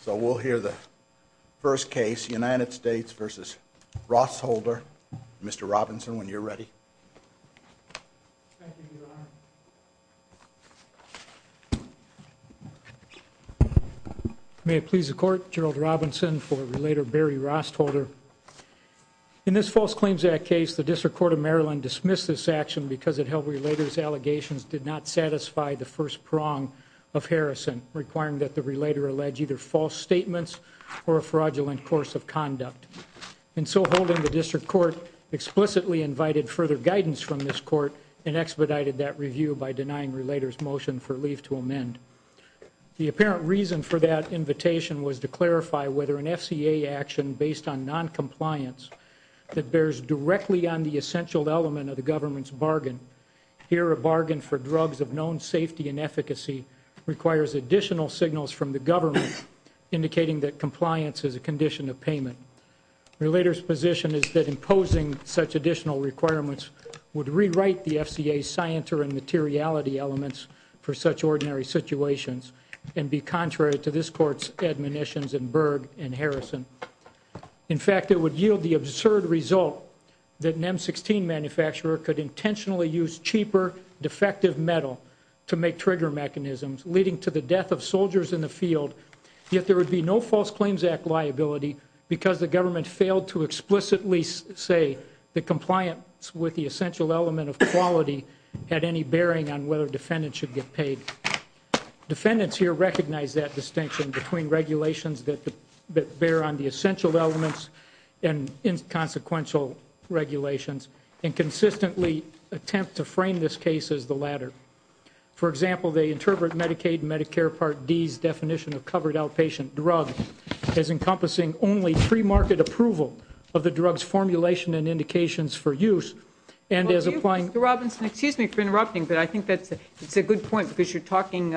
So we'll hear the first case, United States v. Rostholder. Mr. Robinson, when you're ready. Thank you, Your Honor. May it please the Court, Gerald Robinson for Relator Barry Rostholder. In this false claims act case, the District Court of Maryland dismissed this action because it held Relator's allegations did not satisfy the first prong of Harrison, requiring that the Relator allege either false statements or a fraudulent course of conduct. And so holding the District Court explicitly invited further guidance from this court and expedited that review by denying Relator's motion for leave to amend. The apparent reason for that invitation was to clarify whether an FCA action based on noncompliance that bears directly on the essential element of the government's bargain, here a bargain for drugs of known safety and efficacy requires additional signals from the government indicating that compliance is a condition of payment. Relator's position is that imposing such additional requirements would rewrite the FCA's scienter and materiality elements for such ordinary situations and be contrary to this court's admonitions in Berg and Harrison. In fact, it would yield the absurd result that an M-16 manufacturer could intentionally use cheaper, defective metal to make trigger mechanisms, leading to the death of soldiers in the field, yet there would be no false claims act liability because the government failed to explicitly say that compliance with the essential element of quality had any bearing on whether defendants should get paid. Defendants here recognize that distinction between regulations that bear on the essential elements and inconsequential regulations and consistently attempt to frame this case as the latter. For example, they interpret Medicaid and Medicare Part D's definition of covered outpatient drug as encompassing only pre-market approval of the drug's formulation and indications for use and as applying Excuse me for interrupting, but I think that's a good point because you're talking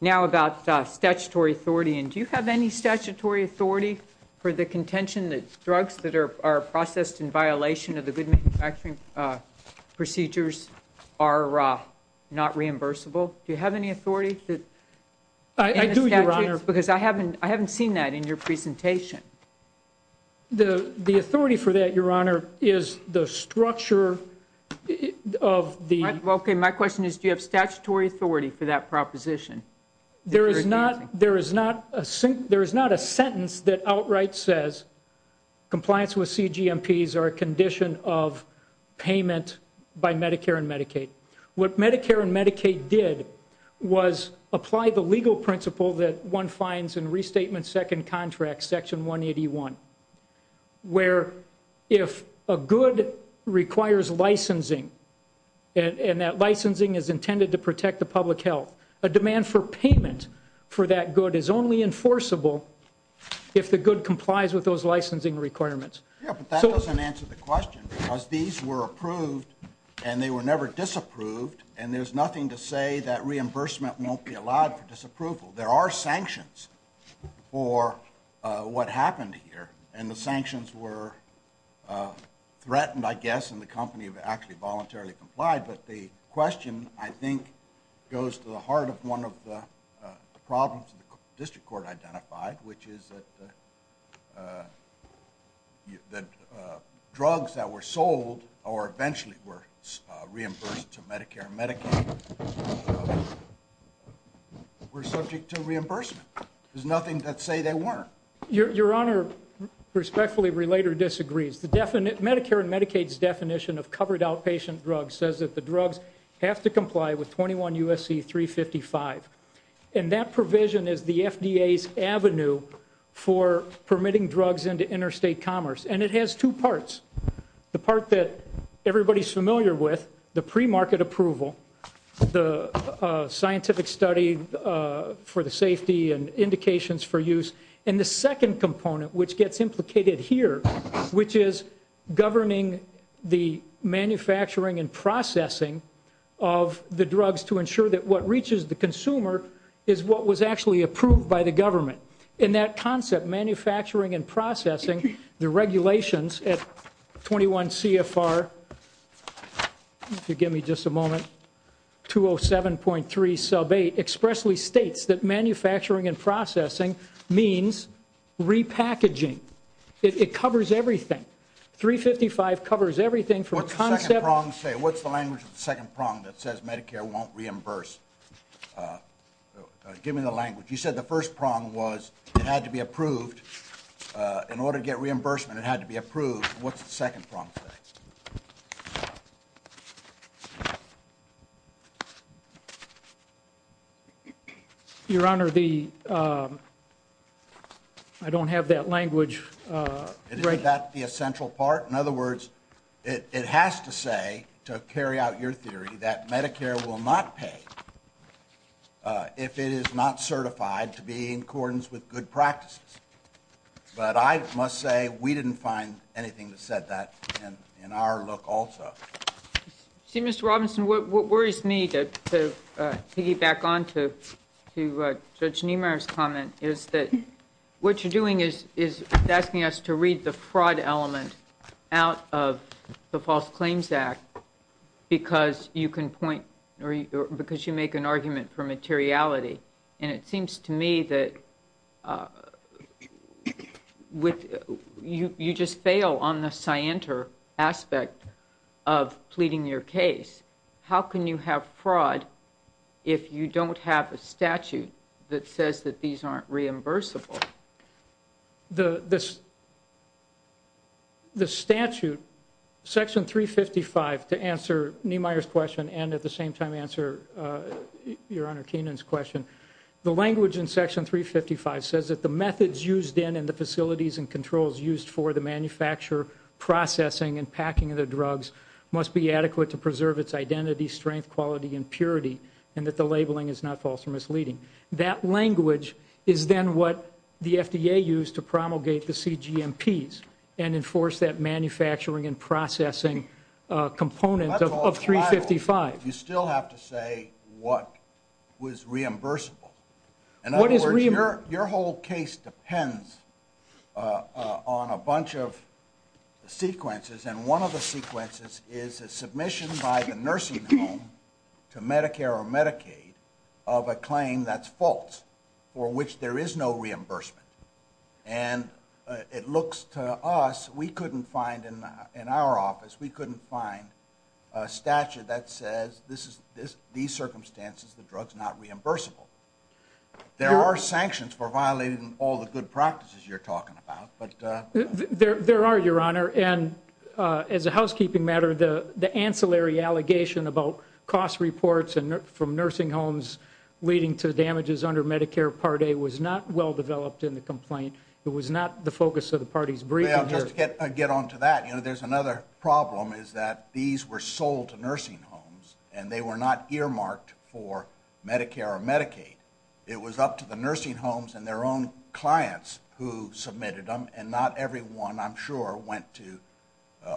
now about statutory authority. Do you have any statutory authority for the contention that drugs that are processed in violation of the good manufacturing procedures are not reimbursable? Do you have any authority? I do, Your Honor. Because I haven't seen that in your presentation. The authority for that, Your Honor, is the structure of the Okay, my question is do you have statutory authority for that proposition? There is not a sentence that outright says compliance with CGMPs are a condition of payment by Medicare and Medicaid. What Medicare and Medicaid did was apply the legal principle that one finds in Restatement Second Contract, Section 181, where if a good requires licensing and that licensing is intended to protect the public health, a demand for payment for that good is only enforceable if the good complies with those licensing requirements. Yeah, but that doesn't answer the question because these were approved and they were never disapproved, and there's nothing to say that reimbursement won't be allowed for disapproval. There are sanctions for what happened here, and the sanctions were threatened, I guess, and the company actually voluntarily complied. But the question, I think, goes to the heart of one of the problems the district court identified, which is that drugs that were sold or eventually were reimbursed to Medicare and Medicaid were subject to reimbursement. There's nothing to say they weren't. Your Honor, respectfully, Relater disagrees. Medicare and Medicaid's definition of covered outpatient drugs says that the drugs have to comply with 21 U.S.C. 355, and that provision is the FDA's avenue for permitting drugs into interstate commerce, and it has two parts. The part that everybody's familiar with, the pre-market approval, the scientific study for the safety and indications for use, and the second component, which gets implicated here, which is governing the manufacturing and processing of the drugs to ensure that what reaches the consumer is what was actually approved by the government. In that concept, manufacturing and processing, the regulations at 21 CFR, if you'll give me just a moment, 207.3 sub 8 expressly states that manufacturing and processing means repackaging. It covers everything. 355 covers everything from a concept. What's the second prong say? What's the language of the second prong that says Medicare won't reimburse? Give me the language. You said the first prong was it had to be approved. In order to get reimbursement, it had to be approved. What's the second prong say? Your Honor, I don't have that language. Isn't that the essential part? In other words, it has to say, to carry out your theory, that Medicare will not pay if it is not certified to be in accordance with good practices. But I must say, we didn't find anything that said that in our look also. See, Mr. Robinson, what worries me, to piggyback on to Judge Niemeyer's comment, is that what you're doing is asking us to read the fraud element out of the False Claims Act because you make an argument for materiality. And it seems to me that you just fail on the scienter aspect of pleading your case. How can you have fraud if you don't have a statute that says that these aren't reimbursable? The statute, Section 355, to answer Niemeyer's question and at the same time answer your Honor Keenan's question, the language in Section 355 says that the methods used in and the facilities and controls used for the manufacture, processing, and packing of the drugs must be adequate to preserve its identity, strength, quality, and purity, and that the labeling is not false or misleading. That language is then what the FDA used to promulgate the CGMPs and enforce that manufacturing and processing component of 355. You still have to say what was reimbursable. In other words, your whole case depends on a bunch of sequences, and one of the sequences is a submission by the nursing home to Medicare or Medicaid of a claim that's false, for which there is no reimbursement. And it looks to us, we couldn't find in our office, we couldn't find a statute that says these circumstances, the drug's not reimbursable. There are sanctions for violating all the good practices you're talking about. There are, your Honor, and as a housekeeping matter, the ancillary allegation about cost reports from nursing homes leading to damages under Medicare Part A was not well developed in the complaint. It was not the focus of the party's briefing here. Just to get on to that, there's another problem is that these were sold to nursing homes, and they were not earmarked for Medicare or Medicaid. It was up to the nursing homes and their own clients who submitted them, and not everyone, I'm sure, went to,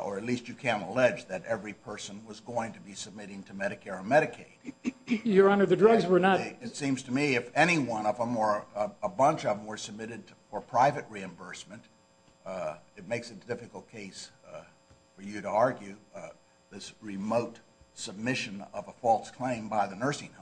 or at least you can't allege that every person was going to be submitting to Medicare or Medicaid. Your Honor, the drugs were not. It seems to me if any one of them or a bunch of them were submitted for private reimbursement, it makes it a difficult case for you to argue this remote submission of a false claim by the nursing home.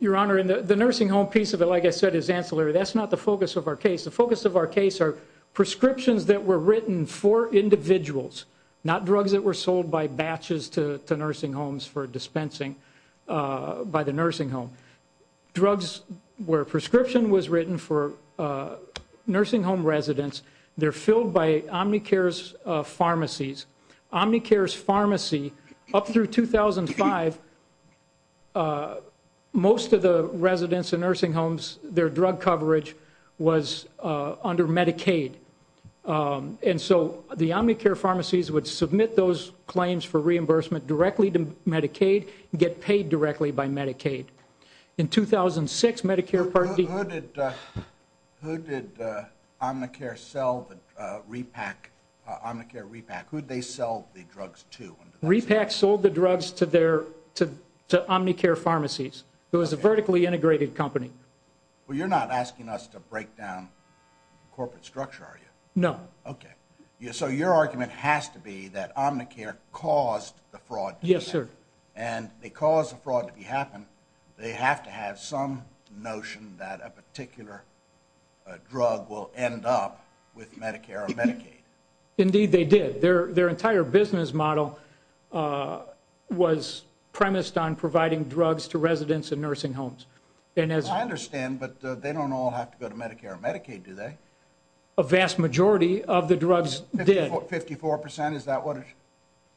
Your Honor, the nursing home piece of it, like I said, is ancillary. That's not the focus of our case. The focus of our case are prescriptions that were written for individuals, not drugs that were sold by batches to nursing homes for dispensing by the nursing home. Drugs where a prescription was written for nursing home residents, they're filled by Omnicare's pharmacies. Omnicare's pharmacy, up through 2005, most of the residents in nursing homes, their drug coverage was under Medicaid. And so the Omnicare pharmacies would submit those claims for reimbursement directly to Medicaid, get paid directly by Medicaid. In 2006, Medicare Part D- Who did Omnicare repack? Who did they sell the drugs to? Repack sold the drugs to Omnicare pharmacies. It was a vertically integrated company. Well, you're not asking us to break down corporate structure, are you? No. Okay. So your argument has to be that Omnicare caused the fraud to happen. Yes, sir. And they caused the fraud to happen, they have to have some notion that a particular drug will end up with Medicare or Medicaid. Indeed, they did. Their entire business model was premised on providing drugs to residents in nursing homes. I understand, but they don't all have to go to Medicare or Medicaid, do they? A vast majority of the drugs did. 54%? Is that what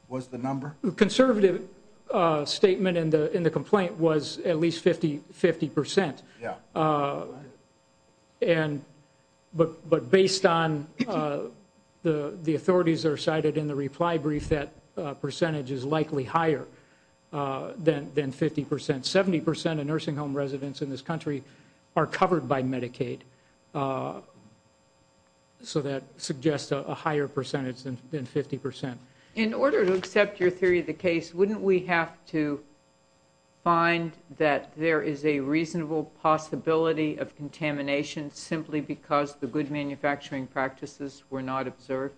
was the number? The conservative statement in the complaint was at least 50%. Yeah. But based on the authorities that are cited in the reply brief, that percentage is likely higher than 50%. Seventy percent of nursing home residents in this country are covered by Medicaid, so that suggests a higher percentage than 50%. In order to accept your theory of the case, wouldn't we have to find that there is a reasonable possibility of contamination simply because the good manufacturing practices were not observed?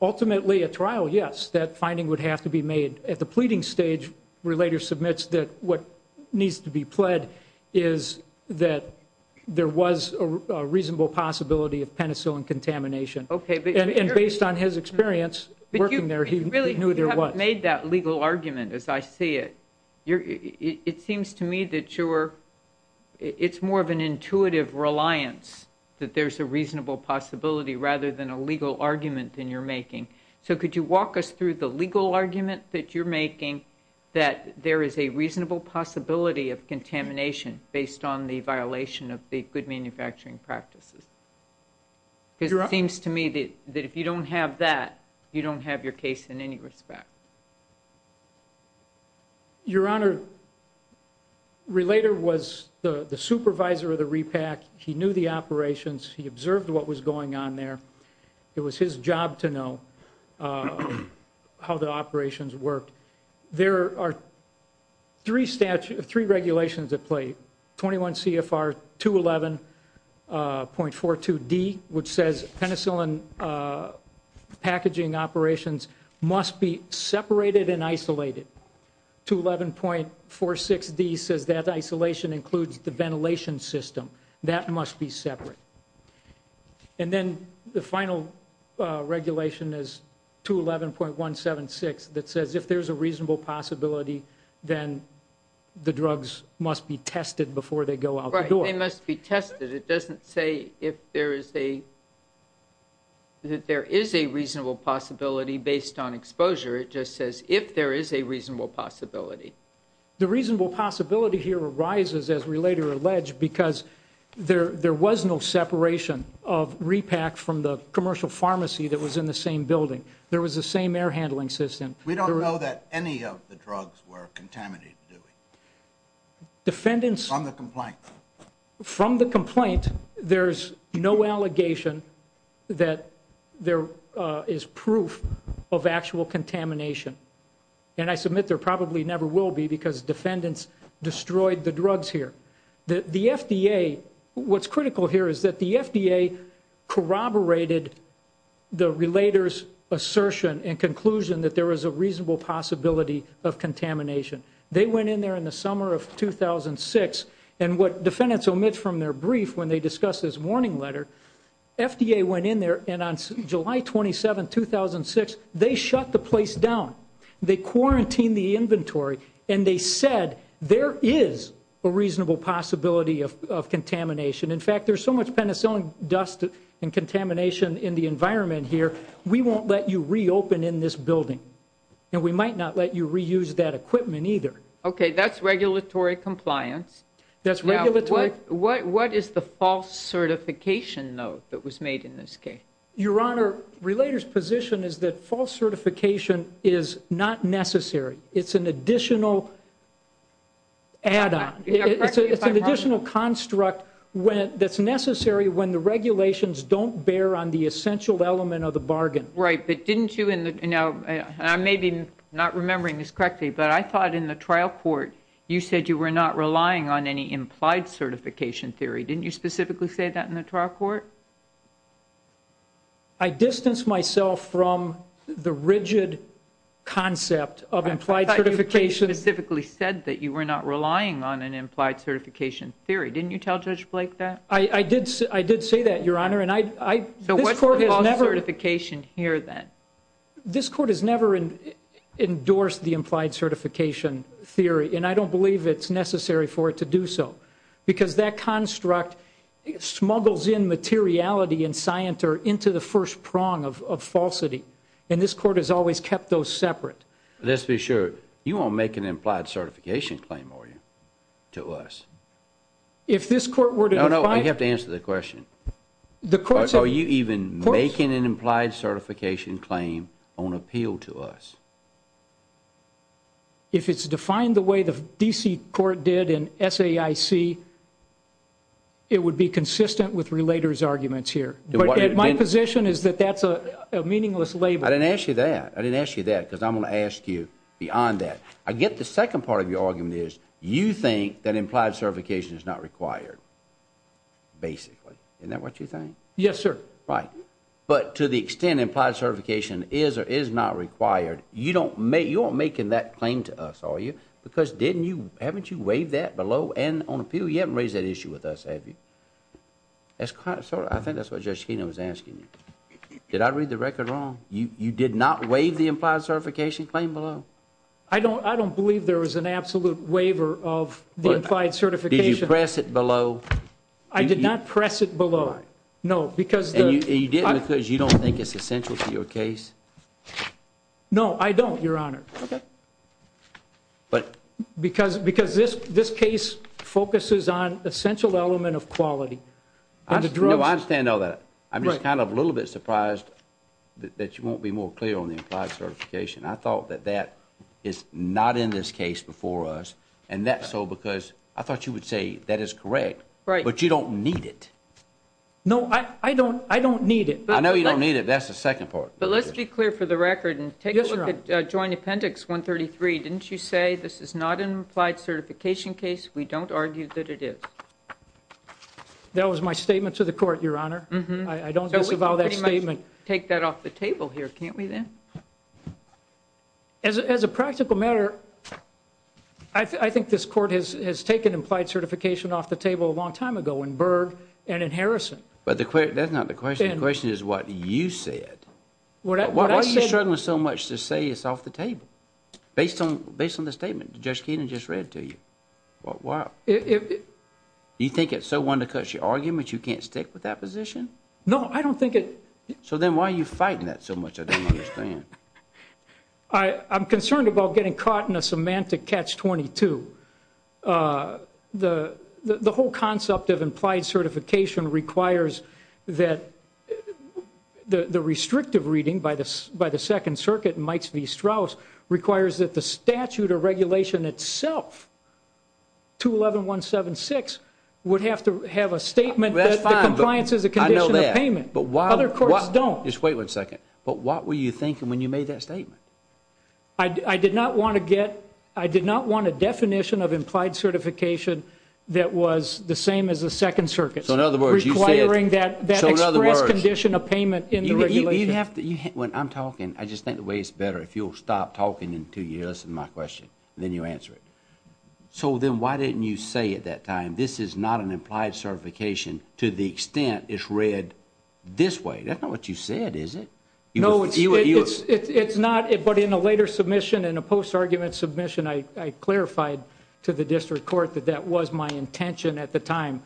Ultimately, at trial, yes, that finding would have to be made. At the pleading stage, Relator submits that what needs to be pled is that there was a reasonable possibility of penicillin contamination. And based on his experience working there, he knew there was. When you made that legal argument, as I see it, it seems to me that it's more of an intuitive reliance that there's a reasonable possibility rather than a legal argument that you're making. So could you walk us through the legal argument that you're making that there is a reasonable possibility of contamination based on the violation of the good manufacturing practices? Because it seems to me that if you don't have that, you don't have your case in any respect. Your Honor, Relator was the supervisor of the repack. He knew the operations. He observed what was going on there. It was his job to know how the operations worked. There are three regulations at play. 21 CFR 211.42D, which says penicillin packaging operations must be separated and isolated. 211.46D says that isolation includes the ventilation system. That must be separate. And then the final regulation is 211.176 that says if there's a reasonable possibility, then the drugs must be tested before they go out the door. They must be tested. It doesn't say if there is a reasonable possibility based on exposure. It just says if there is a reasonable possibility. The reasonable possibility here arises, as Relator alleged, because there was no separation of repack from the commercial pharmacy that was in the same building. There was the same air handling system. We don't know that any of the drugs were contaminated, do we? Defendants... From the complaint. From the complaint, there's no allegation that there is proof of actual contamination. And I submit there probably never will be because defendants destroyed the drugs here. The FDA... What's critical here is that the FDA corroborated the Relator's assertion and conclusion that there is a reasonable possibility of contamination. They went in there in the summer of 2006, and what defendants omit from their brief when they discuss this warning letter, FDA went in there, and on July 27, 2006, they shut the place down. They quarantined the inventory, and they said there is a reasonable possibility of contamination. In fact, there's so much penicillin dust and contamination in the environment here, we won't let you reopen in this building, and we might not let you reuse that equipment either. Okay, that's regulatory compliance. That's regulatory... What is the false certification, though, that was made in this case? Your Honor, Relator's position is that false certification is not necessary. It's an additional add-on. It's an additional construct that's necessary when the regulations don't bear on the essential element of the bargain. Right, but didn't you in the... Now, I may be not remembering this correctly, but I thought in the trial court you said you were not relying on any implied certification theory. Didn't you specifically say that in the trial court? I distanced myself from the rigid concept of implied certification. I thought you specifically said that you were not relying on an implied certification theory. Didn't you tell Judge Blake that? I did say that, Your Honor, and I... So what's the false certification here, then? This Court has never endorsed the implied certification theory, and I don't believe it's necessary for it to do so because that construct smuggles in materiality and scienter into the first prong of falsity, and this Court has always kept those separate. Let's be sure. You won't make an implied certification claim, will you, to us? If this Court were to... No, no, you have to answer the question. Are you even making an implied certification claim on appeal to us? If it's defined the way the D.C. Court did in SAIC, it would be consistent with Relator's arguments here. But my position is that that's a meaningless label. I didn't ask you that. I didn't ask you that because I'm going to ask you beyond that. I get the second part of your argument is you think that implied certification is not required, basically. Isn't that what you think? Yes, sir. Right. But to the extent implied certification is or is not required, you're not making that claim to us, are you? Because didn't you... Haven't you waived that below and on appeal? You haven't raised that issue with us, have you? I think that's what Judge Schena was asking you. Did I read the record wrong? You did not waive the implied certification claim below? No. I don't believe there was an absolute waiver of the implied certification. Did you press it below? I did not press it below. No, because the... And you didn't because you don't think it's essential to your case? No, I don't, Your Honor. Okay. But... Because this case focuses on essential element of quality. No, I understand all that. I'm just kind of a little bit surprised that you won't be more clear on the implied certification. I thought that that is not in this case before us. And that's so because I thought you would say that is correct. Right. But you don't need it. No, I don't need it. I know you don't need it. That's the second part. But let's be clear for the record and take a look at Joint Appendix 133. Didn't you say this is not an implied certification case? We don't argue that it is. That was my statement to the Court, Your Honor. I don't disavow that statement. Take that off the table here, can't we then? As a practical matter, I think this Court has taken implied certification off the table a long time ago in Berg and in Harrison. But that's not the question. The question is what you said. Why are you struggling so much to say it's off the table based on the statement Judge Keenan just read to you? Why? Do you think it's so one to cut your argument you can't stick with that position? No, I don't think it is. So then why are you fighting that so much? I don't understand. I'm concerned about getting caught in a semantic catch-22. The whole concept of implied certification requires that the restrictive reading by the Second Circuit, requires that the statute or regulation itself, 211.176, would have to have a statement that the compliance is a condition of payment. I know that. Other courts don't. Just wait one second. But what were you thinking when you made that statement? I did not want a definition of implied certification that was the same as the Second Circuit, requiring that express condition of payment in the regulation. When I'm talking, I just think the way it's better if you'll stop talking until you listen to my question, and then you answer it. So then why didn't you say at that time, this is not an implied certification to the extent it's read this way? That's not what you said, is it? No, it's not. But in a later submission, in a post-argument submission, I clarified to the district court that that was my intention at the time.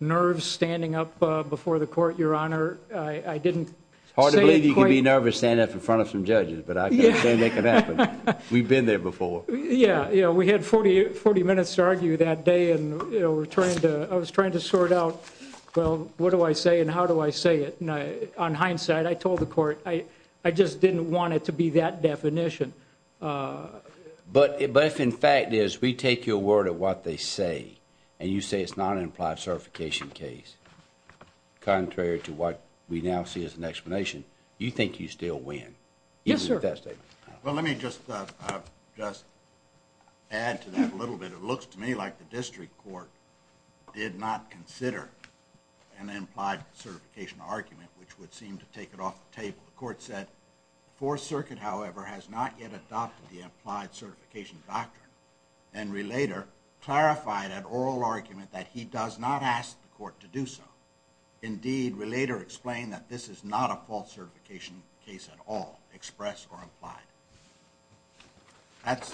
Nerves standing up before the court, Your Honor. It's hard to believe you can be nervous standing up in front of some judges, but I can't say that can happen. We've been there before. Yeah. We had 40 minutes to argue that day, and I was trying to sort out, well, what do I say and how do I say it? On hindsight, I told the court I just didn't want it to be that definition. But if, in fact, we take your word of what they say, and you say it's not an implied certification case, contrary to what we now see as an explanation, you think you still win. Yes, sir. Even with that statement. Well, let me just add to that a little bit. It looks to me like the district court did not consider an implied certification argument, which would seem to take it off the table. The court said, Fourth Circuit, however, has not yet adopted the implied certification doctrine, and Relater clarified an oral argument that he does not ask the court to do so. Indeed, Relater explained that this is not a false certification case at all, express or implied. That's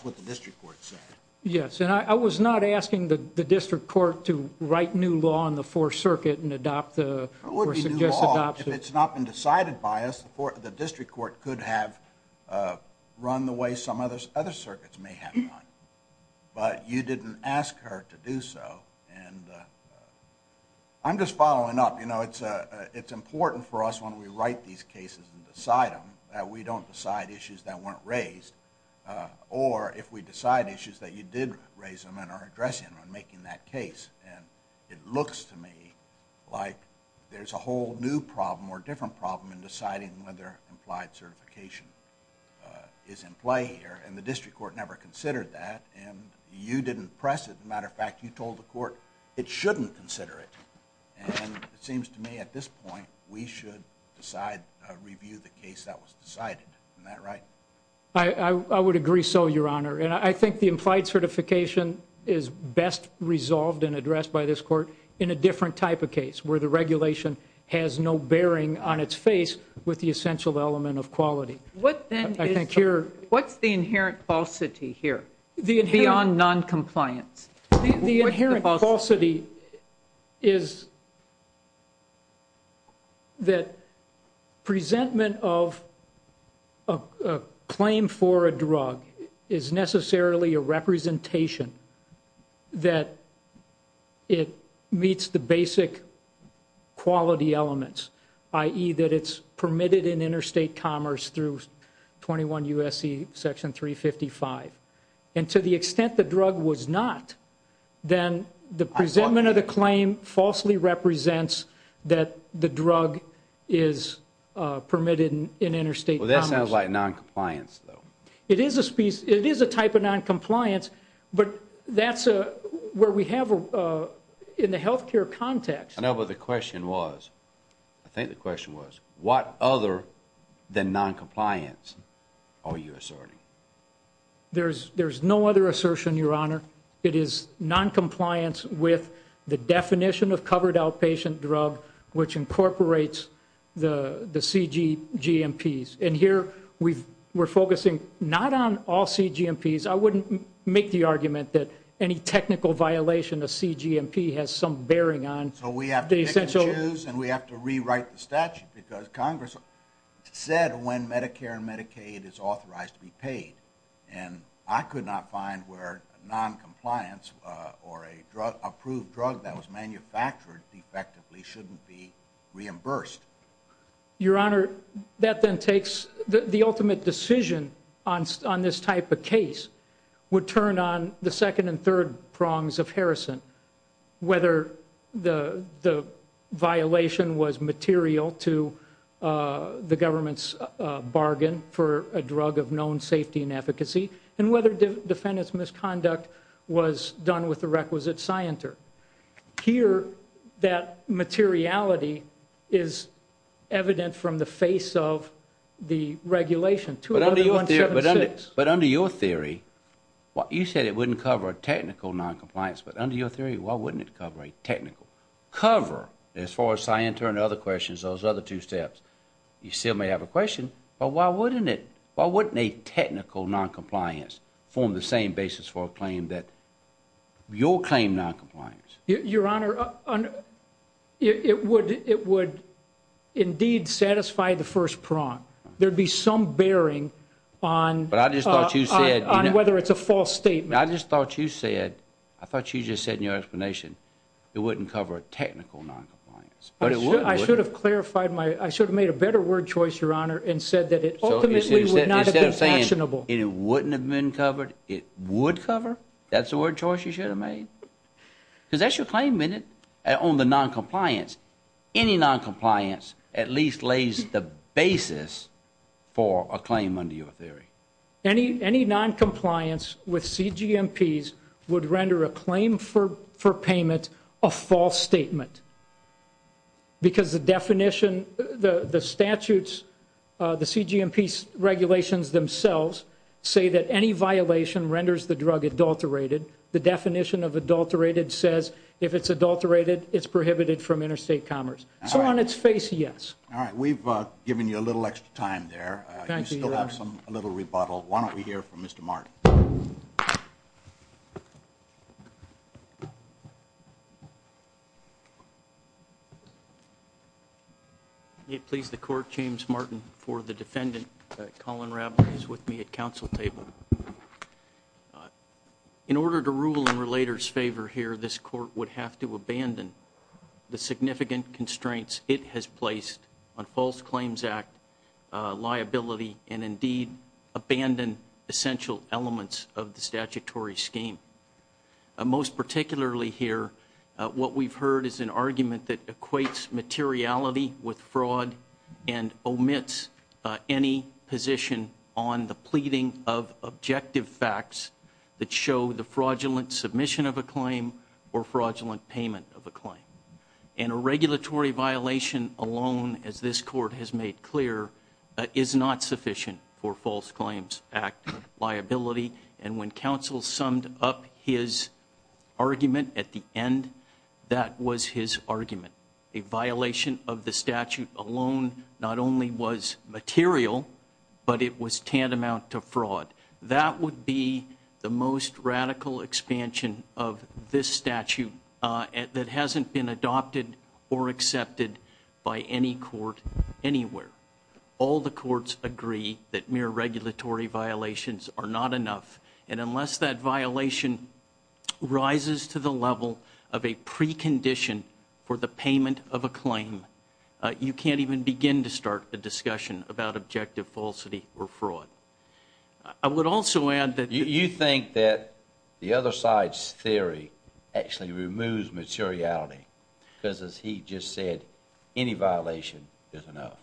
what the district court said. Yes, and I was not asking the district court to write new law on the Fourth Circuit and adopt the or suggest adoption. If it's not been decided by us, the district court could have run the way some other circuits may have run. But you didn't ask her to do so. I'm just following up. It's important for us when we write these cases and decide them that we don't decide issues that weren't raised, or if we decide issues that you did raise them and are addressing them and making that case. And it looks to me like there's a whole new problem or different problem in deciding whether implied certification is in play here. And the district court never considered that. And you didn't press it. As a matter of fact, you told the court it shouldn't consider it. And it seems to me at this point we should decide, review the case that was decided. Isn't that right? I would agree so, Your Honor. And I think the implied certification is best resolved and addressed by this court in a different type of case where the regulation has no bearing on its face with the essential element of quality. What's the inherent falsity here beyond noncompliance? The inherent falsity is that presentment of a claim for a drug is necessarily a representation that it meets the basic quality elements, i.e., that it's permitted in interstate commerce through 21 U.S.C. Section 355. And to the extent the drug was not, then the presentment of the claim falsely represents that the drug is permitted in interstate commerce. Well, that sounds like noncompliance, though. It is a type of noncompliance, but that's where we have in the health care context. I know, but the question was, I think the question was, what other than noncompliance are you asserting? There's no other assertion, Your Honor. It is noncompliance with the definition of covered outpatient drug, which incorporates the CGMPs. And here we're focusing not on all CGMPs. I wouldn't make the argument that any technical violation of CGMP has some bearing on the essential. We have to choose and we have to rewrite the statute because Congress said when Medicare and Medicaid is authorized to be paid. And I could not find where noncompliance or an approved drug that was manufactured defectively shouldn't be reimbursed. Your Honor, that then takes the ultimate decision on this type of case would turn on the second and third prongs of Harrison. Whether the violation was material to the government's bargain for a drug of known safety and efficacy and whether defendant's misconduct was done with the requisite scienter. Here, that materiality is evident from the face of the regulation. But under your theory, you said it wouldn't cover a technical noncompliance. But under your theory, why wouldn't it cover a technical cover? As far as scienter and other questions, those other two steps, you still may have a question. But why wouldn't a technical noncompliance form the same basis for a claim that your claim noncompliance? Your Honor, it would indeed satisfy the first prong. There'd be some bearing on whether it's a false statement. I just thought you said, I thought you just said in your explanation, it wouldn't cover a technical noncompliance. I should have made a better word choice, Your Honor, and said that it ultimately would not have been actionable. Instead of saying it wouldn't have been covered, it would cover? That's the word choice you should have made? Because that's your claim, isn't it? On the noncompliance, any noncompliance at least lays the basis for a claim under your theory. Any noncompliance with CGMPs would render a claim for payment a false statement. Because the definition, the statutes, the CGMP regulations themselves say that any violation renders the drug adulterated. The definition of adulterated says if it's adulterated, it's prohibited from interstate commerce. So on its face, yes. All right. We've given you a little extra time there. Thank you, Your Honor. You still have a little rebuttal. Why don't we hear from Mr. Martin? May it please the Court, James Martin for the defendant, Colin Rablin, is with me at council table. In order to rule in relator's favor here, this court would have to abandon the significant constraints it has placed on false claims act, liability, and indeed abandon essential elements of the statutory scheme. Most particularly here, what we've heard is an argument that equates materiality with fraud and omits any position on the pleading of objective facts that show the fraudulent submission of a claim or fraudulent payment of a claim. And a regulatory violation alone, as this court has made clear, is not sufficient for false claims act liability. And when council summed up his argument at the end, that was his argument. A violation of the statute alone not only was material, but it was tantamount to fraud. That would be the most radical expansion of this statute that hasn't been adopted or accepted by any court anywhere. All the courts agree that mere regulatory violations are not enough. And unless that violation rises to the level of a precondition for the payment of a claim, you can't even begin to start a discussion about objective falsity or fraud. I would also add that... You think that the other side's theory actually removes materiality? Because as he just said, any violation is enough.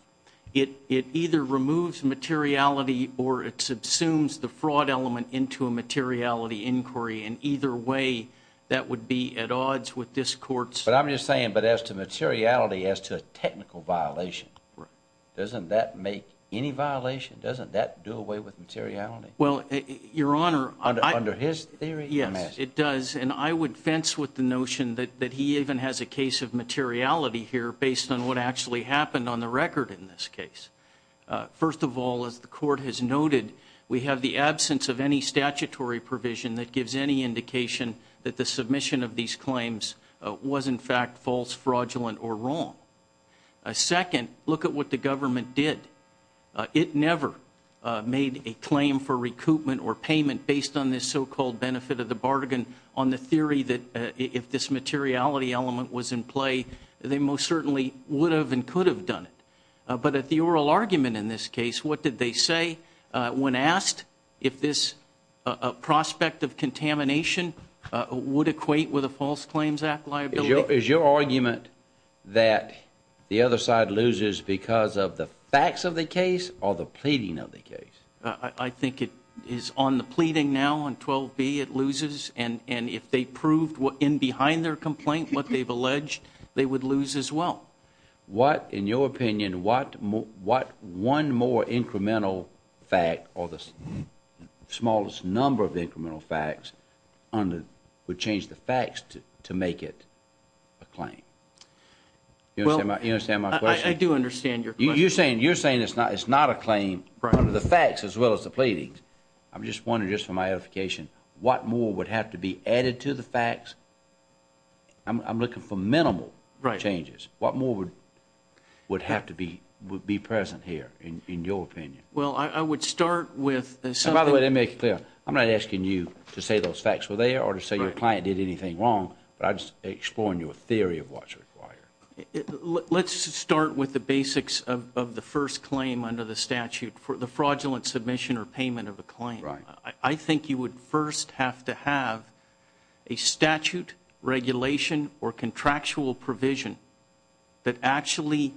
It either removes materiality or it subsumes the fraud element into a materiality inquiry. In either way, that would be at odds with this court's... But I'm just saying, but as to materiality as to a technical violation, doesn't that make any violation? Doesn't that do away with materiality? Well, Your Honor... Under his theory? Yes, it does. And I would fence with the notion that he even has a case of materiality here based on what actually happened on the record in this case. First of all, as the court has noted, we have the absence of any statutory provision that gives any indication that the submission of these claims was in fact false, fraudulent, or wrong. Second, look at what the government did. It never made a claim for recoupment or payment based on this so-called benefit of the bargain on the theory that if this materiality element was in play, they most certainly would have and could have done it. But at the oral argument in this case, what did they say when asked if this prospect of contamination would equate with a False Claims Act liability? Is your argument that the other side loses because of the facts of the case or the pleading of the case? I think it is on the pleading now on 12B it loses, and if they proved in behind their complaint what they've alleged, they would lose as well. What, in your opinion, what one more incremental fact or the smallest number of incremental facts would change the facts to make it a claim? You understand my question? I do understand your question. You're saying it's not a claim under the facts as well as the pleadings. I'm just wondering, just for my edification, what more would have to be added to the facts? I'm looking for minimal changes. What more would have to be present here, in your opinion? Well, I would start with something. By the way, let me make it clear. I'm not asking you to say those facts were there or to say your client did anything wrong, but I'm just exploring your theory of what's required. Let's start with the basics of the first claim under the statute, the fraudulent submission or payment of a claim. Right. I think you would first have to have a statute, regulation, or contractual provision that actually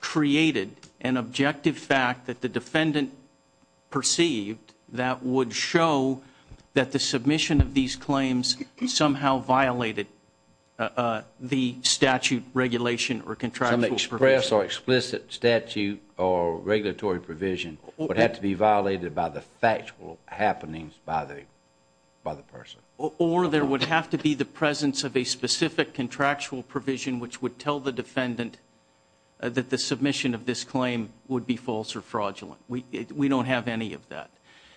created an objective fact that the defendant perceived that would show that the submission of these claims somehow violated the statute, regulation, or contractual provision. Some express or explicit statute or regulatory provision would have to be violated by the factual happenings by the person. Or there would have to be the presence of a specific contractual provision which would tell the defendant that the submission of this claim would be false or fraudulent. We don't have any of that.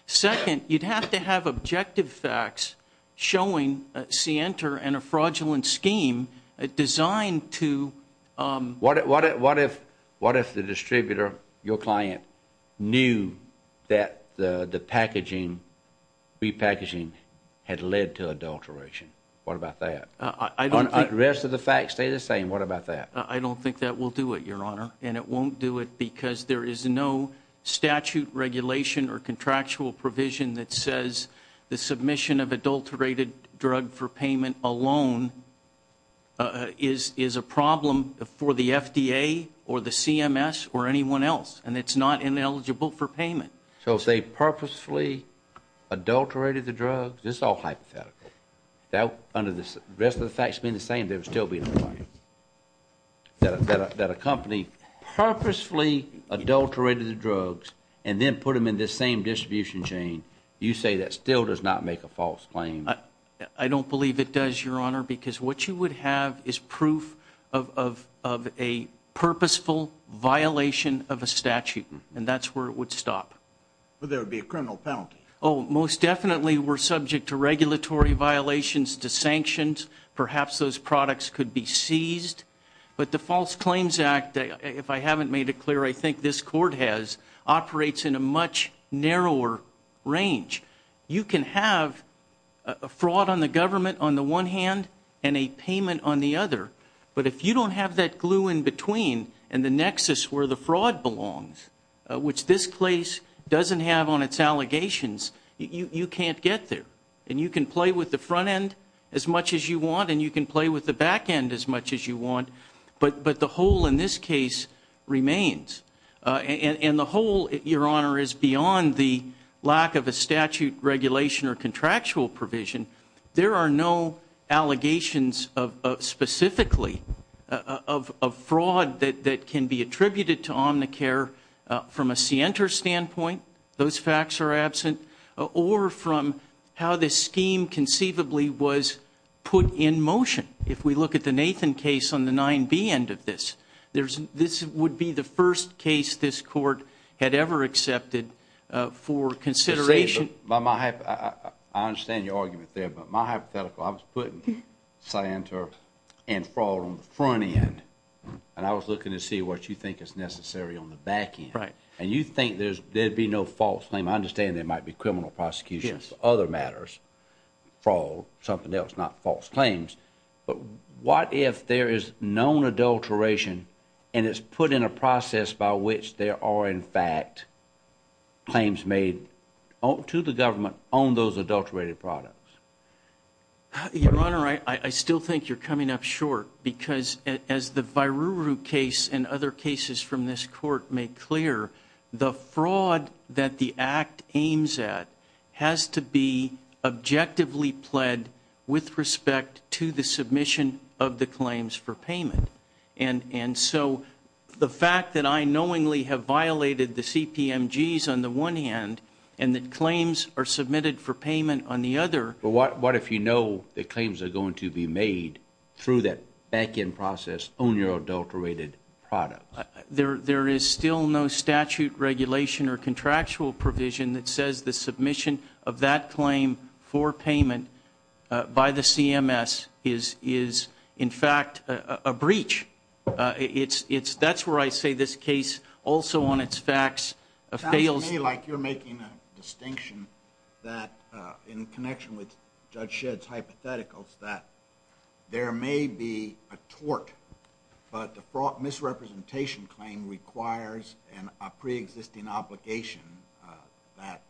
Second, you'd have to have objective facts showing a scienter and a fraudulent scheme designed to- What about that? I don't- The rest of the facts stay the same. What about that? I don't think that will do it, Your Honor, and it won't do it because there is no statute, regulation, or contractual provision that says the submission of adulterated drug for payment alone is a problem for the FDA or the CMS or anyone else, and it's not ineligible for payment. So if they purposefully adulterated the drugs, it's all hypothetical. Under the rest of the facts being the same, there would still be no claim. That a company purposefully adulterated the drugs and then put them in this same distribution chain, you say that still does not make a false claim? I don't believe it does, Your Honor, because what you would have is proof of a purposeful violation of a statute, and that's where it would stop. But there would be a criminal penalty. Oh, most definitely we're subject to regulatory violations, to sanctions. Perhaps those products could be seized. But the False Claims Act, if I haven't made it clear, I think this Court has, operates in a much narrower range. You can have a fraud on the government on the one hand and a payment on the other, but if you don't have that glue in between and the nexus where the fraud belongs, which this case doesn't have on its allegations, you can't get there. And you can play with the front end as much as you want, and you can play with the back end as much as you want, but the hole in this case remains. And the hole, Your Honor, is beyond the lack of a statute regulation or contractual provision. There are no allegations specifically of fraud that can be attributed to Omnicare from a scienter standpoint, those facts are absent, or from how this scheme conceivably was put in motion. If we look at the Nathan case on the 9B end of this, this would be the first case this Court had ever accepted for consideration. I understand your argument there, but my hypothetical, I was putting scienter and fraud on the front end, and I was looking to see what you think is necessary on the back end. And you think there would be no false claim, I understand there might be criminal prosecution for other matters, fraud, something else, not false claims, but what if there is known adulteration and it's put in a process by which there are, in fact, claims made to the government on those adulterated products? Your Honor, I still think you're coming up short, because as the Viruru case and other cases from this Court make clear, the fraud that the Act aims at has to be objectively pled with respect to the submission of the claims for payment. And so the fact that I knowingly have violated the CPMGs on the one hand, and the claims are submitted for payment on the other. But what if you know the claims are going to be made through that back end process on your adulterated products? There is still no statute, regulation, or contractual provision that says the submission of that claim for payment by the CMS is, in fact, a breach. That's where I say this case also on its facts fails. It sounds to me like you're making a distinction in connection with Judge Shedd's hypotheticals that there may be a tort, but the misrepresentation claim requires a pre-existing obligation that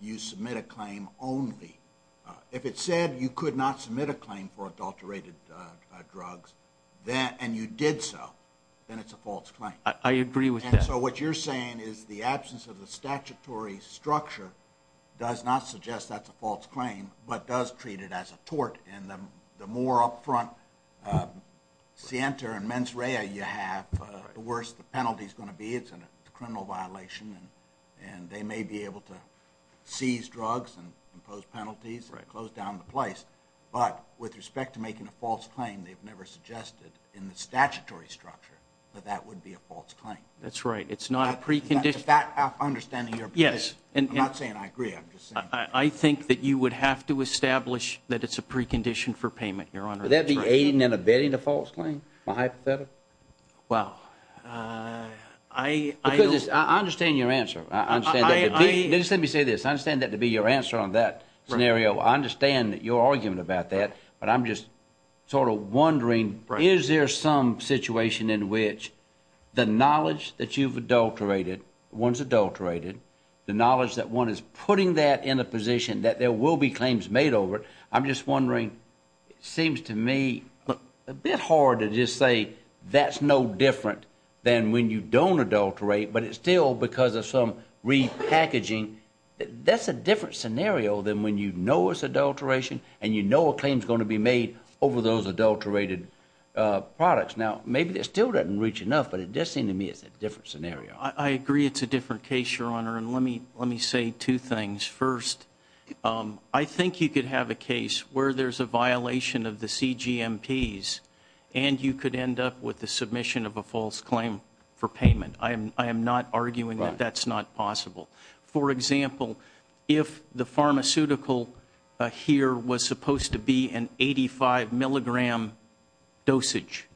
you submit a claim only. If it said you could not submit a claim for adulterated drugs, and you did so, then it's a false claim. I agree with that. And so what you're saying is the absence of the statutory structure does not suggest that's a false claim, but does treat it as a tort. And the more upfront scienter and mens rea you have, the worse the penalty is going to be. It's a criminal violation, and they may be able to seize drugs and impose penalties and close down the place. But with respect to making a false claim, they've never suggested in the statutory structure that that would be a false claim. That's right. It's not a precondition. Is that understanding your position? Yes. I'm not saying I agree. I'm just saying. I think that you would have to establish that it's a precondition for payment, Your Honor. Would that be aiding and abetting a false claim, my hypothetical? Well, I understand your answer. Let me say this. I understand that to be your answer on that scenario. I understand your argument about that, but I'm just sort of wondering, is there some situation in which the knowledge that you've adulterated, one's adulterated, the knowledge that one is putting that in a position that there will be claims made over it, I'm just wondering, it seems to me a bit hard to just say that's no different than when you don't adulterate, but it's still because of some repackaging. That's a different scenario than when you know it's adulteration and you know a claim is going to be made over those adulterated products. Now, maybe it still doesn't reach enough, but it does seem to me it's a different scenario. I agree it's a different case, Your Honor. And let me say two things. First, I think you could have a case where there's a violation of the CGMPs and you could end up with the submission of a false claim for payment. I am not arguing that that's not possible. For example, if the pharmaceutical here was supposed to be an 85-milligram dosage,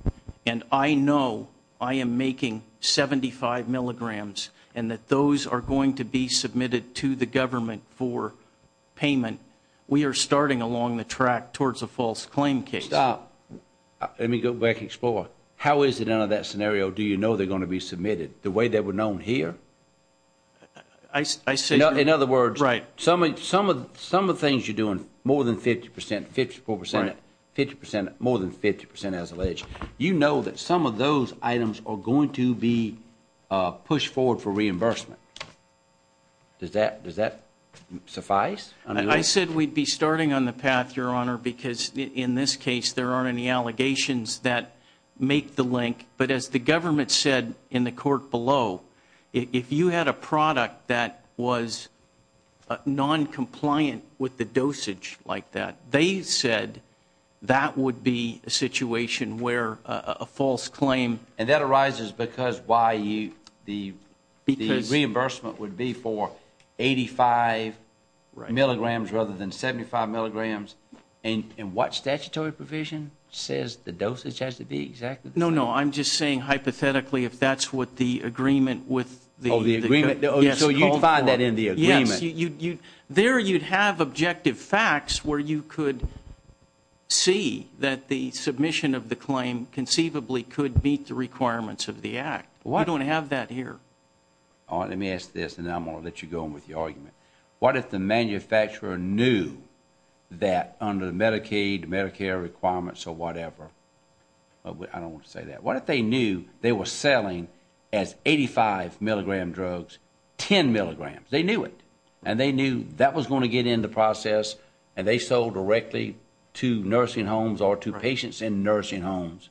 and I know I am making 75 milligrams and that those are going to be submitted to the government for payment, we are starting along the track towards a false claim case. Stop. Let me go back and explore. How is it out of that scenario do you know they're going to be submitted? The way they were known here? In other words, some of the things you're doing, more than 50 percent, 54 percent, 50 percent, more than 50 percent as alleged, you know that some of those items are going to be pushed forward for reimbursement. Does that suffice? I said we'd be starting on the path, Your Honor, because in this case there aren't any allegations that make the link. But as the government said in the court below, if you had a product that was noncompliant with the dosage like that, they said that would be a situation where a false claim. And that arises because the reimbursement would be for 85 milligrams rather than 75 milligrams. And what statutory provision says the dosage has to be exactly the same? No, no, I'm just saying hypothetically if that's what the agreement with the Oh, the agreement, so you'd find that in the agreement. Yes, there you'd have objective facts where you could see that the submission of the claim conceivably could meet the requirements of the act. We don't have that here. All right, let me ask this and then I'm going to let you go on with your argument. What if the manufacturer knew that under Medicaid, Medicare requirements or whatever? I don't want to say that. What if they knew they were selling as 85 milligram drugs, 10 milligrams? They knew it and they knew that was going to get in the process and they sold directly to nursing homes or to patients in nursing homes.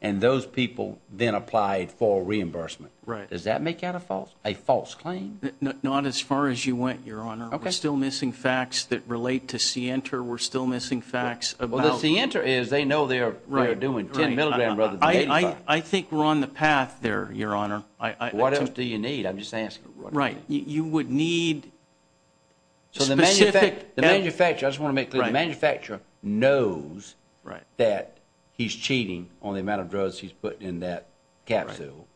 And those people then applied for reimbursement. Right. Does that make that a false claim? Not as far as you went, Your Honor. OK. We're still missing facts that relate to CENTER. We're still missing facts about. Well, the CENTER is they know they're doing 10 milligrams rather than 85. I think we're on the path there, Your Honor. What else do you need? I'm just asking. Right. You would need specific. So the manufacturer, I just want to make clear, the manufacturer knows that he's cheating on the amount of drugs he's putting in that capsule.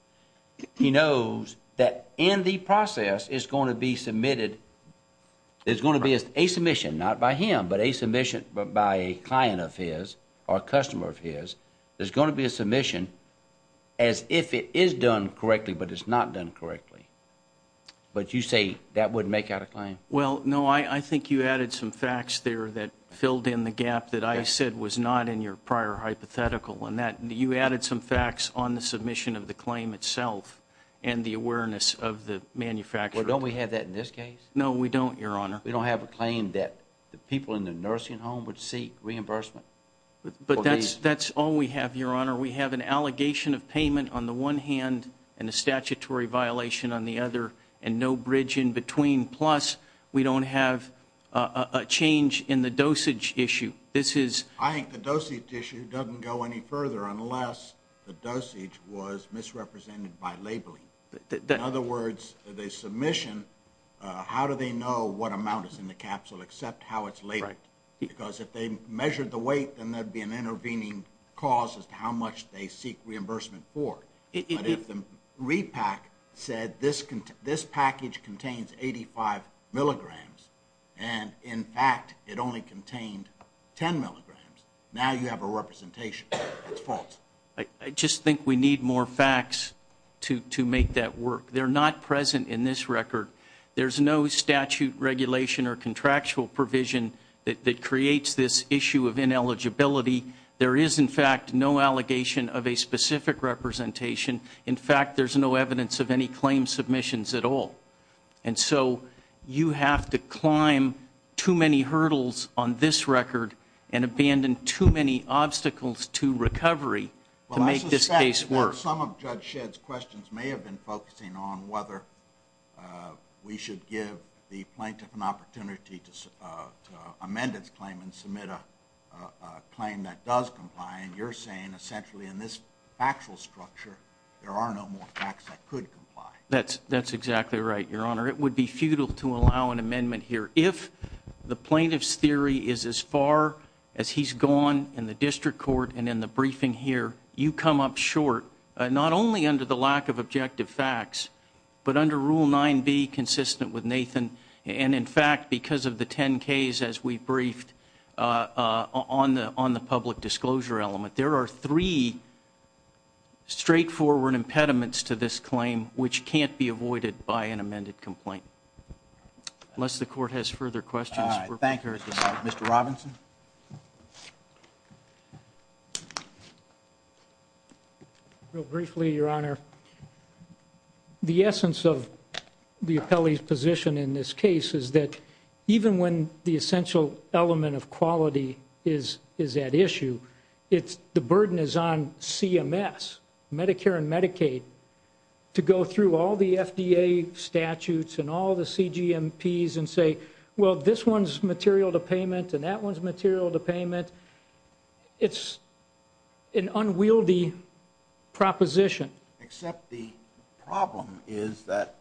He knows that in the process, it's going to be submitted. It's going to be a submission, not by him, but a submission by a client of his or a customer of his. There's going to be a submission as if it is done correctly, but it's not done correctly. But you say that would make out a claim? Well, no, I think you added some facts there that filled in the gap that I said was not in your prior hypothetical. You added some facts on the submission of the claim itself and the awareness of the manufacturer. Well, don't we have that in this case? No, we don't, Your Honor. We don't have a claim that the people in the nursing home would seek reimbursement. But that's all we have, Your Honor. We have an allegation of payment on the one hand and a statutory violation on the other and no bridge in between. Plus, we don't have a change in the dosage issue. I think the dosage issue doesn't go any further unless the dosage was misrepresented by labeling. In other words, the submission, how do they know what amount is in the capsule except how it's labeled? Because if they measured the weight, then there would be an intervening cause as to how much they seek reimbursement for. But if the repack said this package contains 85 milligrams and, in fact, it only contained 10 milligrams, now you have a representation. It's false. I just think we need more facts to make that work. They're not present in this record. There's no statute regulation or contractual provision that creates this issue of ineligibility. There is, in fact, no allegation of a specific representation. In fact, there's no evidence of any claim submissions at all. And so you have to climb too many hurdles on this record and abandon too many obstacles to recovery to make this case work. Well, I suspect that some of Judge Shedd's questions may have been focusing on whether we should give the plaintiff an opportunity to amend its claim and submit a claim that does comply. And you're saying, essentially, in this factual structure, there are no more facts that could comply. That's exactly right, Your Honor. It would be futile to allow an amendment here. If the plaintiff's theory is as far as he's gone in the district court and in the briefing here, you come up short not only under the lack of objective facts, but under Rule 9B, consistent with Nathan, and, in fact, because of the 10Ks, as we briefed, on the public disclosure element. There are three straightforward impediments to this claim, which can't be avoided by an amended complaint. Unless the Court has further questions. Thank you, Mr. Robinson. Real briefly, Your Honor, the essence of the appellee's position in this case is that, even when the essential element of quality is at issue, the burden is on CMS, Medicare and Medicaid, to go through all the FDA statutes and all the CGMPs and say, well, this one's material to payment and that one's material to payment. It's an unwieldy proposition. Except the problem is that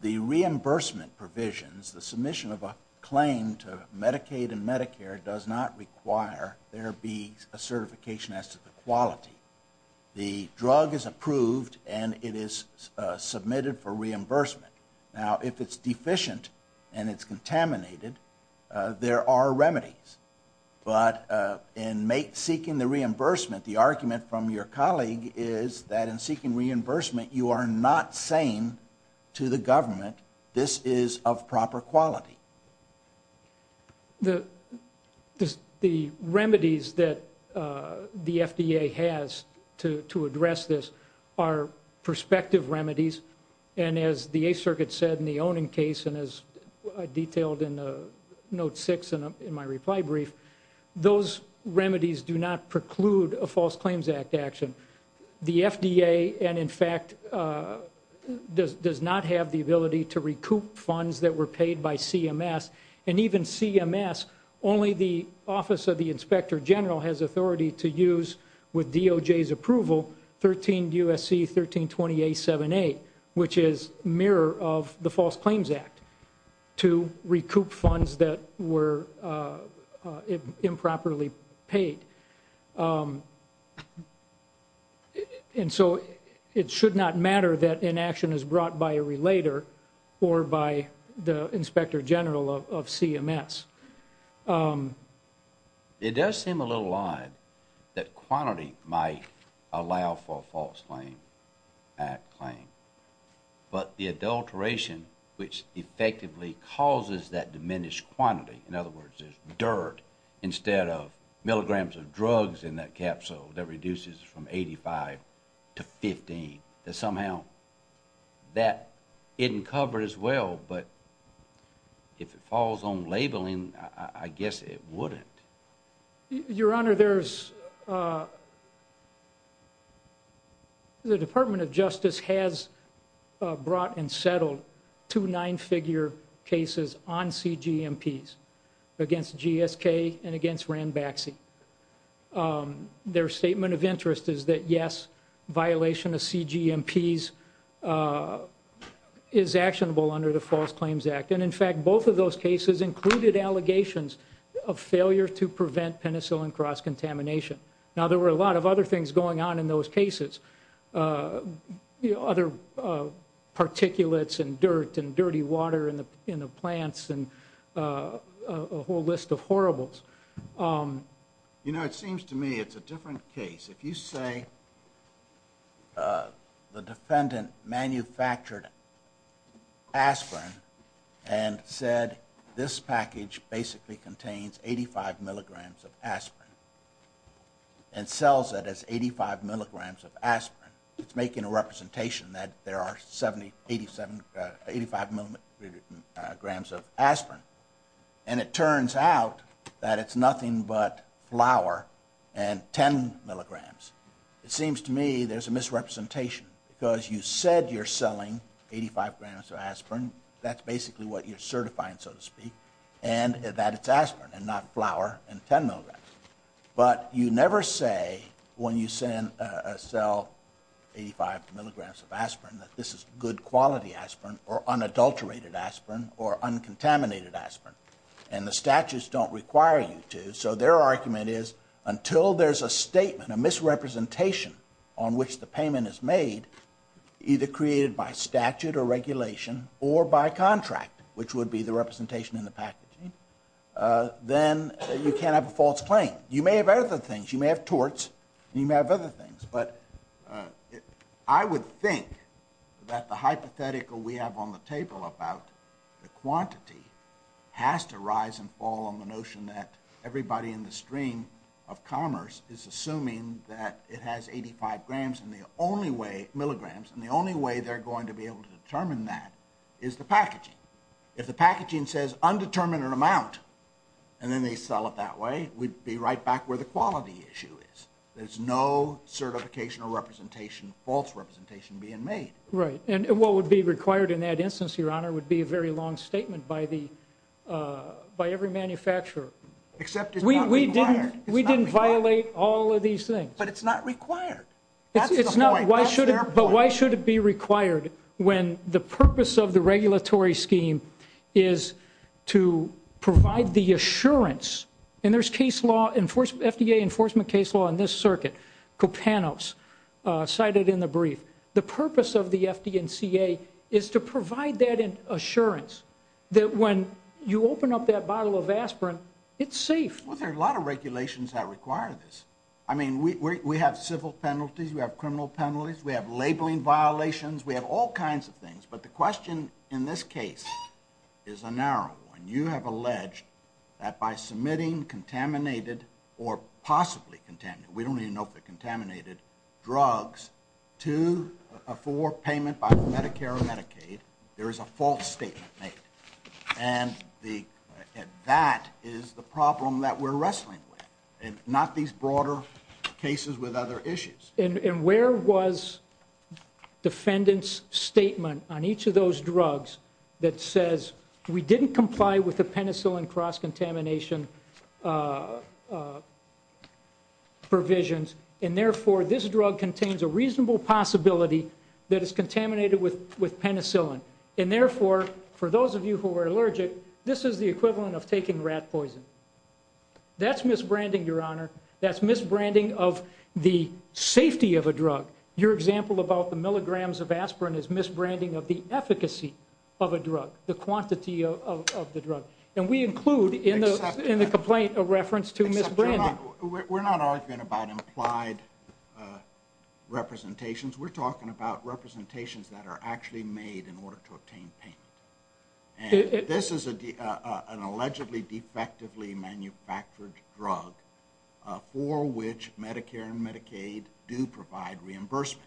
the reimbursement provisions, the submission of a claim to Medicaid and Medicare, does not require there be a certification as to the quality. The drug is approved and it is submitted for reimbursement. Now, if it's deficient and it's contaminated, there are remedies. But in seeking the reimbursement, the argument from your colleague is that in seeking reimbursement, you are not saying to the government, this is of proper quality. The remedies that the FDA has to address this are prospective remedies, and as the Eighth Circuit said in the owning case and as I detailed in Note 6 in my reply brief, those remedies do not preclude a False Claims Act action. The FDA, in fact, does not have the ability to recoup funds that were paid by CMS. And even CMS, only the Office of the Inspector General has authority to use, with DOJ's approval, 13 U.S.C. 1320-878, which is mirror of the False Claims Act, to recoup funds that were improperly paid. And so it should not matter that inaction is brought by a relator or by the Inspector General of CMS. It does seem a little odd that quantity might allow for a False Claims Act claim, but the adulteration which effectively causes that diminished quantity, in other words, there's dirt instead of milligrams of drugs in that capsule that reduces from 85 to 15, that somehow that didn't cover as well, but if it falls on labeling, I guess it wouldn't. Your Honor, the Department of Justice has brought and settled two nine-figure cases on CGMPs against GSK and against Ranbaxy. Their statement of interest is that, yes, violation of CGMPs is actionable under the False Claims Act. And, in fact, both of those cases included allegations of failure to prevent penicillin cross-contamination. Now, there were a lot of other things going on in those cases. Other particulates and dirt and dirty water in the plants and a whole list of horribles. You know, it seems to me it's a different case. If you say the defendant manufactured aspirin and said this package basically contains 85 milligrams of aspirin and sells it as 85 milligrams of aspirin, it's making a representation that there are 85 milligrams of aspirin. And it turns out that it's nothing but flour and 10 milligrams. It seems to me there's a misrepresentation because you said you're selling 85 grams of aspirin, that's basically what you're certifying, so to speak, and that it's aspirin and not flour and 10 milligrams. But you never say when you sell 85 milligrams of aspirin that this is good quality aspirin or unadulterated aspirin or uncontaminated aspirin. And the statutes don't require you to. So their argument is until there's a statement, a misrepresentation on which the payment is made, either created by statute or regulation or by contract, which would be the representation in the packaging, then you can't have a false claim. You may have other things. You may have torts. You may have other things. But I would think that the hypothetical we have on the table about the quantity has to rise and fall on the notion that everybody in the stream of commerce is assuming that it has 85 milligrams, and the only way they're going to be able to determine that is the packaging. If the packaging says undetermined amount and then they sell it that way, we'd be right back where the quality issue is. There's no certification or representation, false representation being made. Right. And what would be required in that instance, Your Honor, would be a very long statement by every manufacturer. Except it's not required. We didn't violate all of these things. But it's not required. That's the point. That's their point. But why should it be required when the purpose of the regulatory scheme is to provide the assurance, and there's FDA enforcement case law in this circuit, COPANOS, cited in the brief. The purpose of the FD&CA is to provide that assurance that when you open up that bottle of aspirin, it's safe. Well, there are a lot of regulations that require this. I mean, we have civil penalties. We have criminal penalties. We have labeling violations. We have all kinds of things. But the question in this case is a narrow one. You have alleged that by submitting contaminated or possibly contaminated, we don't even know if they're contaminated, drugs to or for payment by Medicare or Medicaid, there is a false statement made. And that is the problem that we're wrestling with, and not these broader cases with other issues. And where was defendant's statement on each of those drugs that says, we didn't comply with the penicillin cross-contamination provisions, and, therefore, this drug contains a reasonable possibility that it's contaminated with penicillin. And, therefore, for those of you who are allergic, this is the equivalent of taking rat poison. That's misbranding, Your Honor. That's misbranding of the safety of a drug. Your example about the milligrams of aspirin is misbranding of the efficacy of a drug, the quantity of the drug. And we include in the complaint a reference to misbranding. We're not arguing about implied representations. We're talking about representations that are actually made in order to obtain payment. This is an allegedly defectively manufactured drug for which Medicare and Medicaid do provide reimbursement.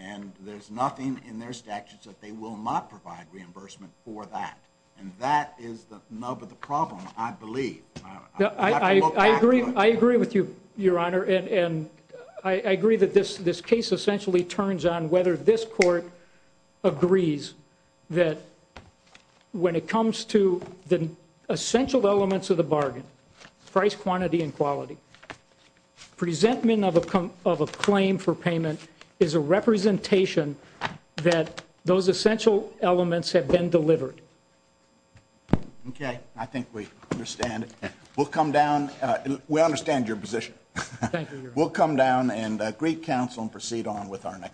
And there's nothing in their statutes that they will not provide reimbursement for that. And that is the nub of the problem, I believe. Your Honor, and I agree that this case essentially turns on whether this court agrees that when it comes to the essential elements of the bargain, price, quantity, and quality, presentment of a claim for payment is a representation that those essential elements have been delivered. Okay. I think we understand it. We'll come down. We understand your position. Thank you, Your Honor. We'll come down and greet counsel and proceed on with our next case.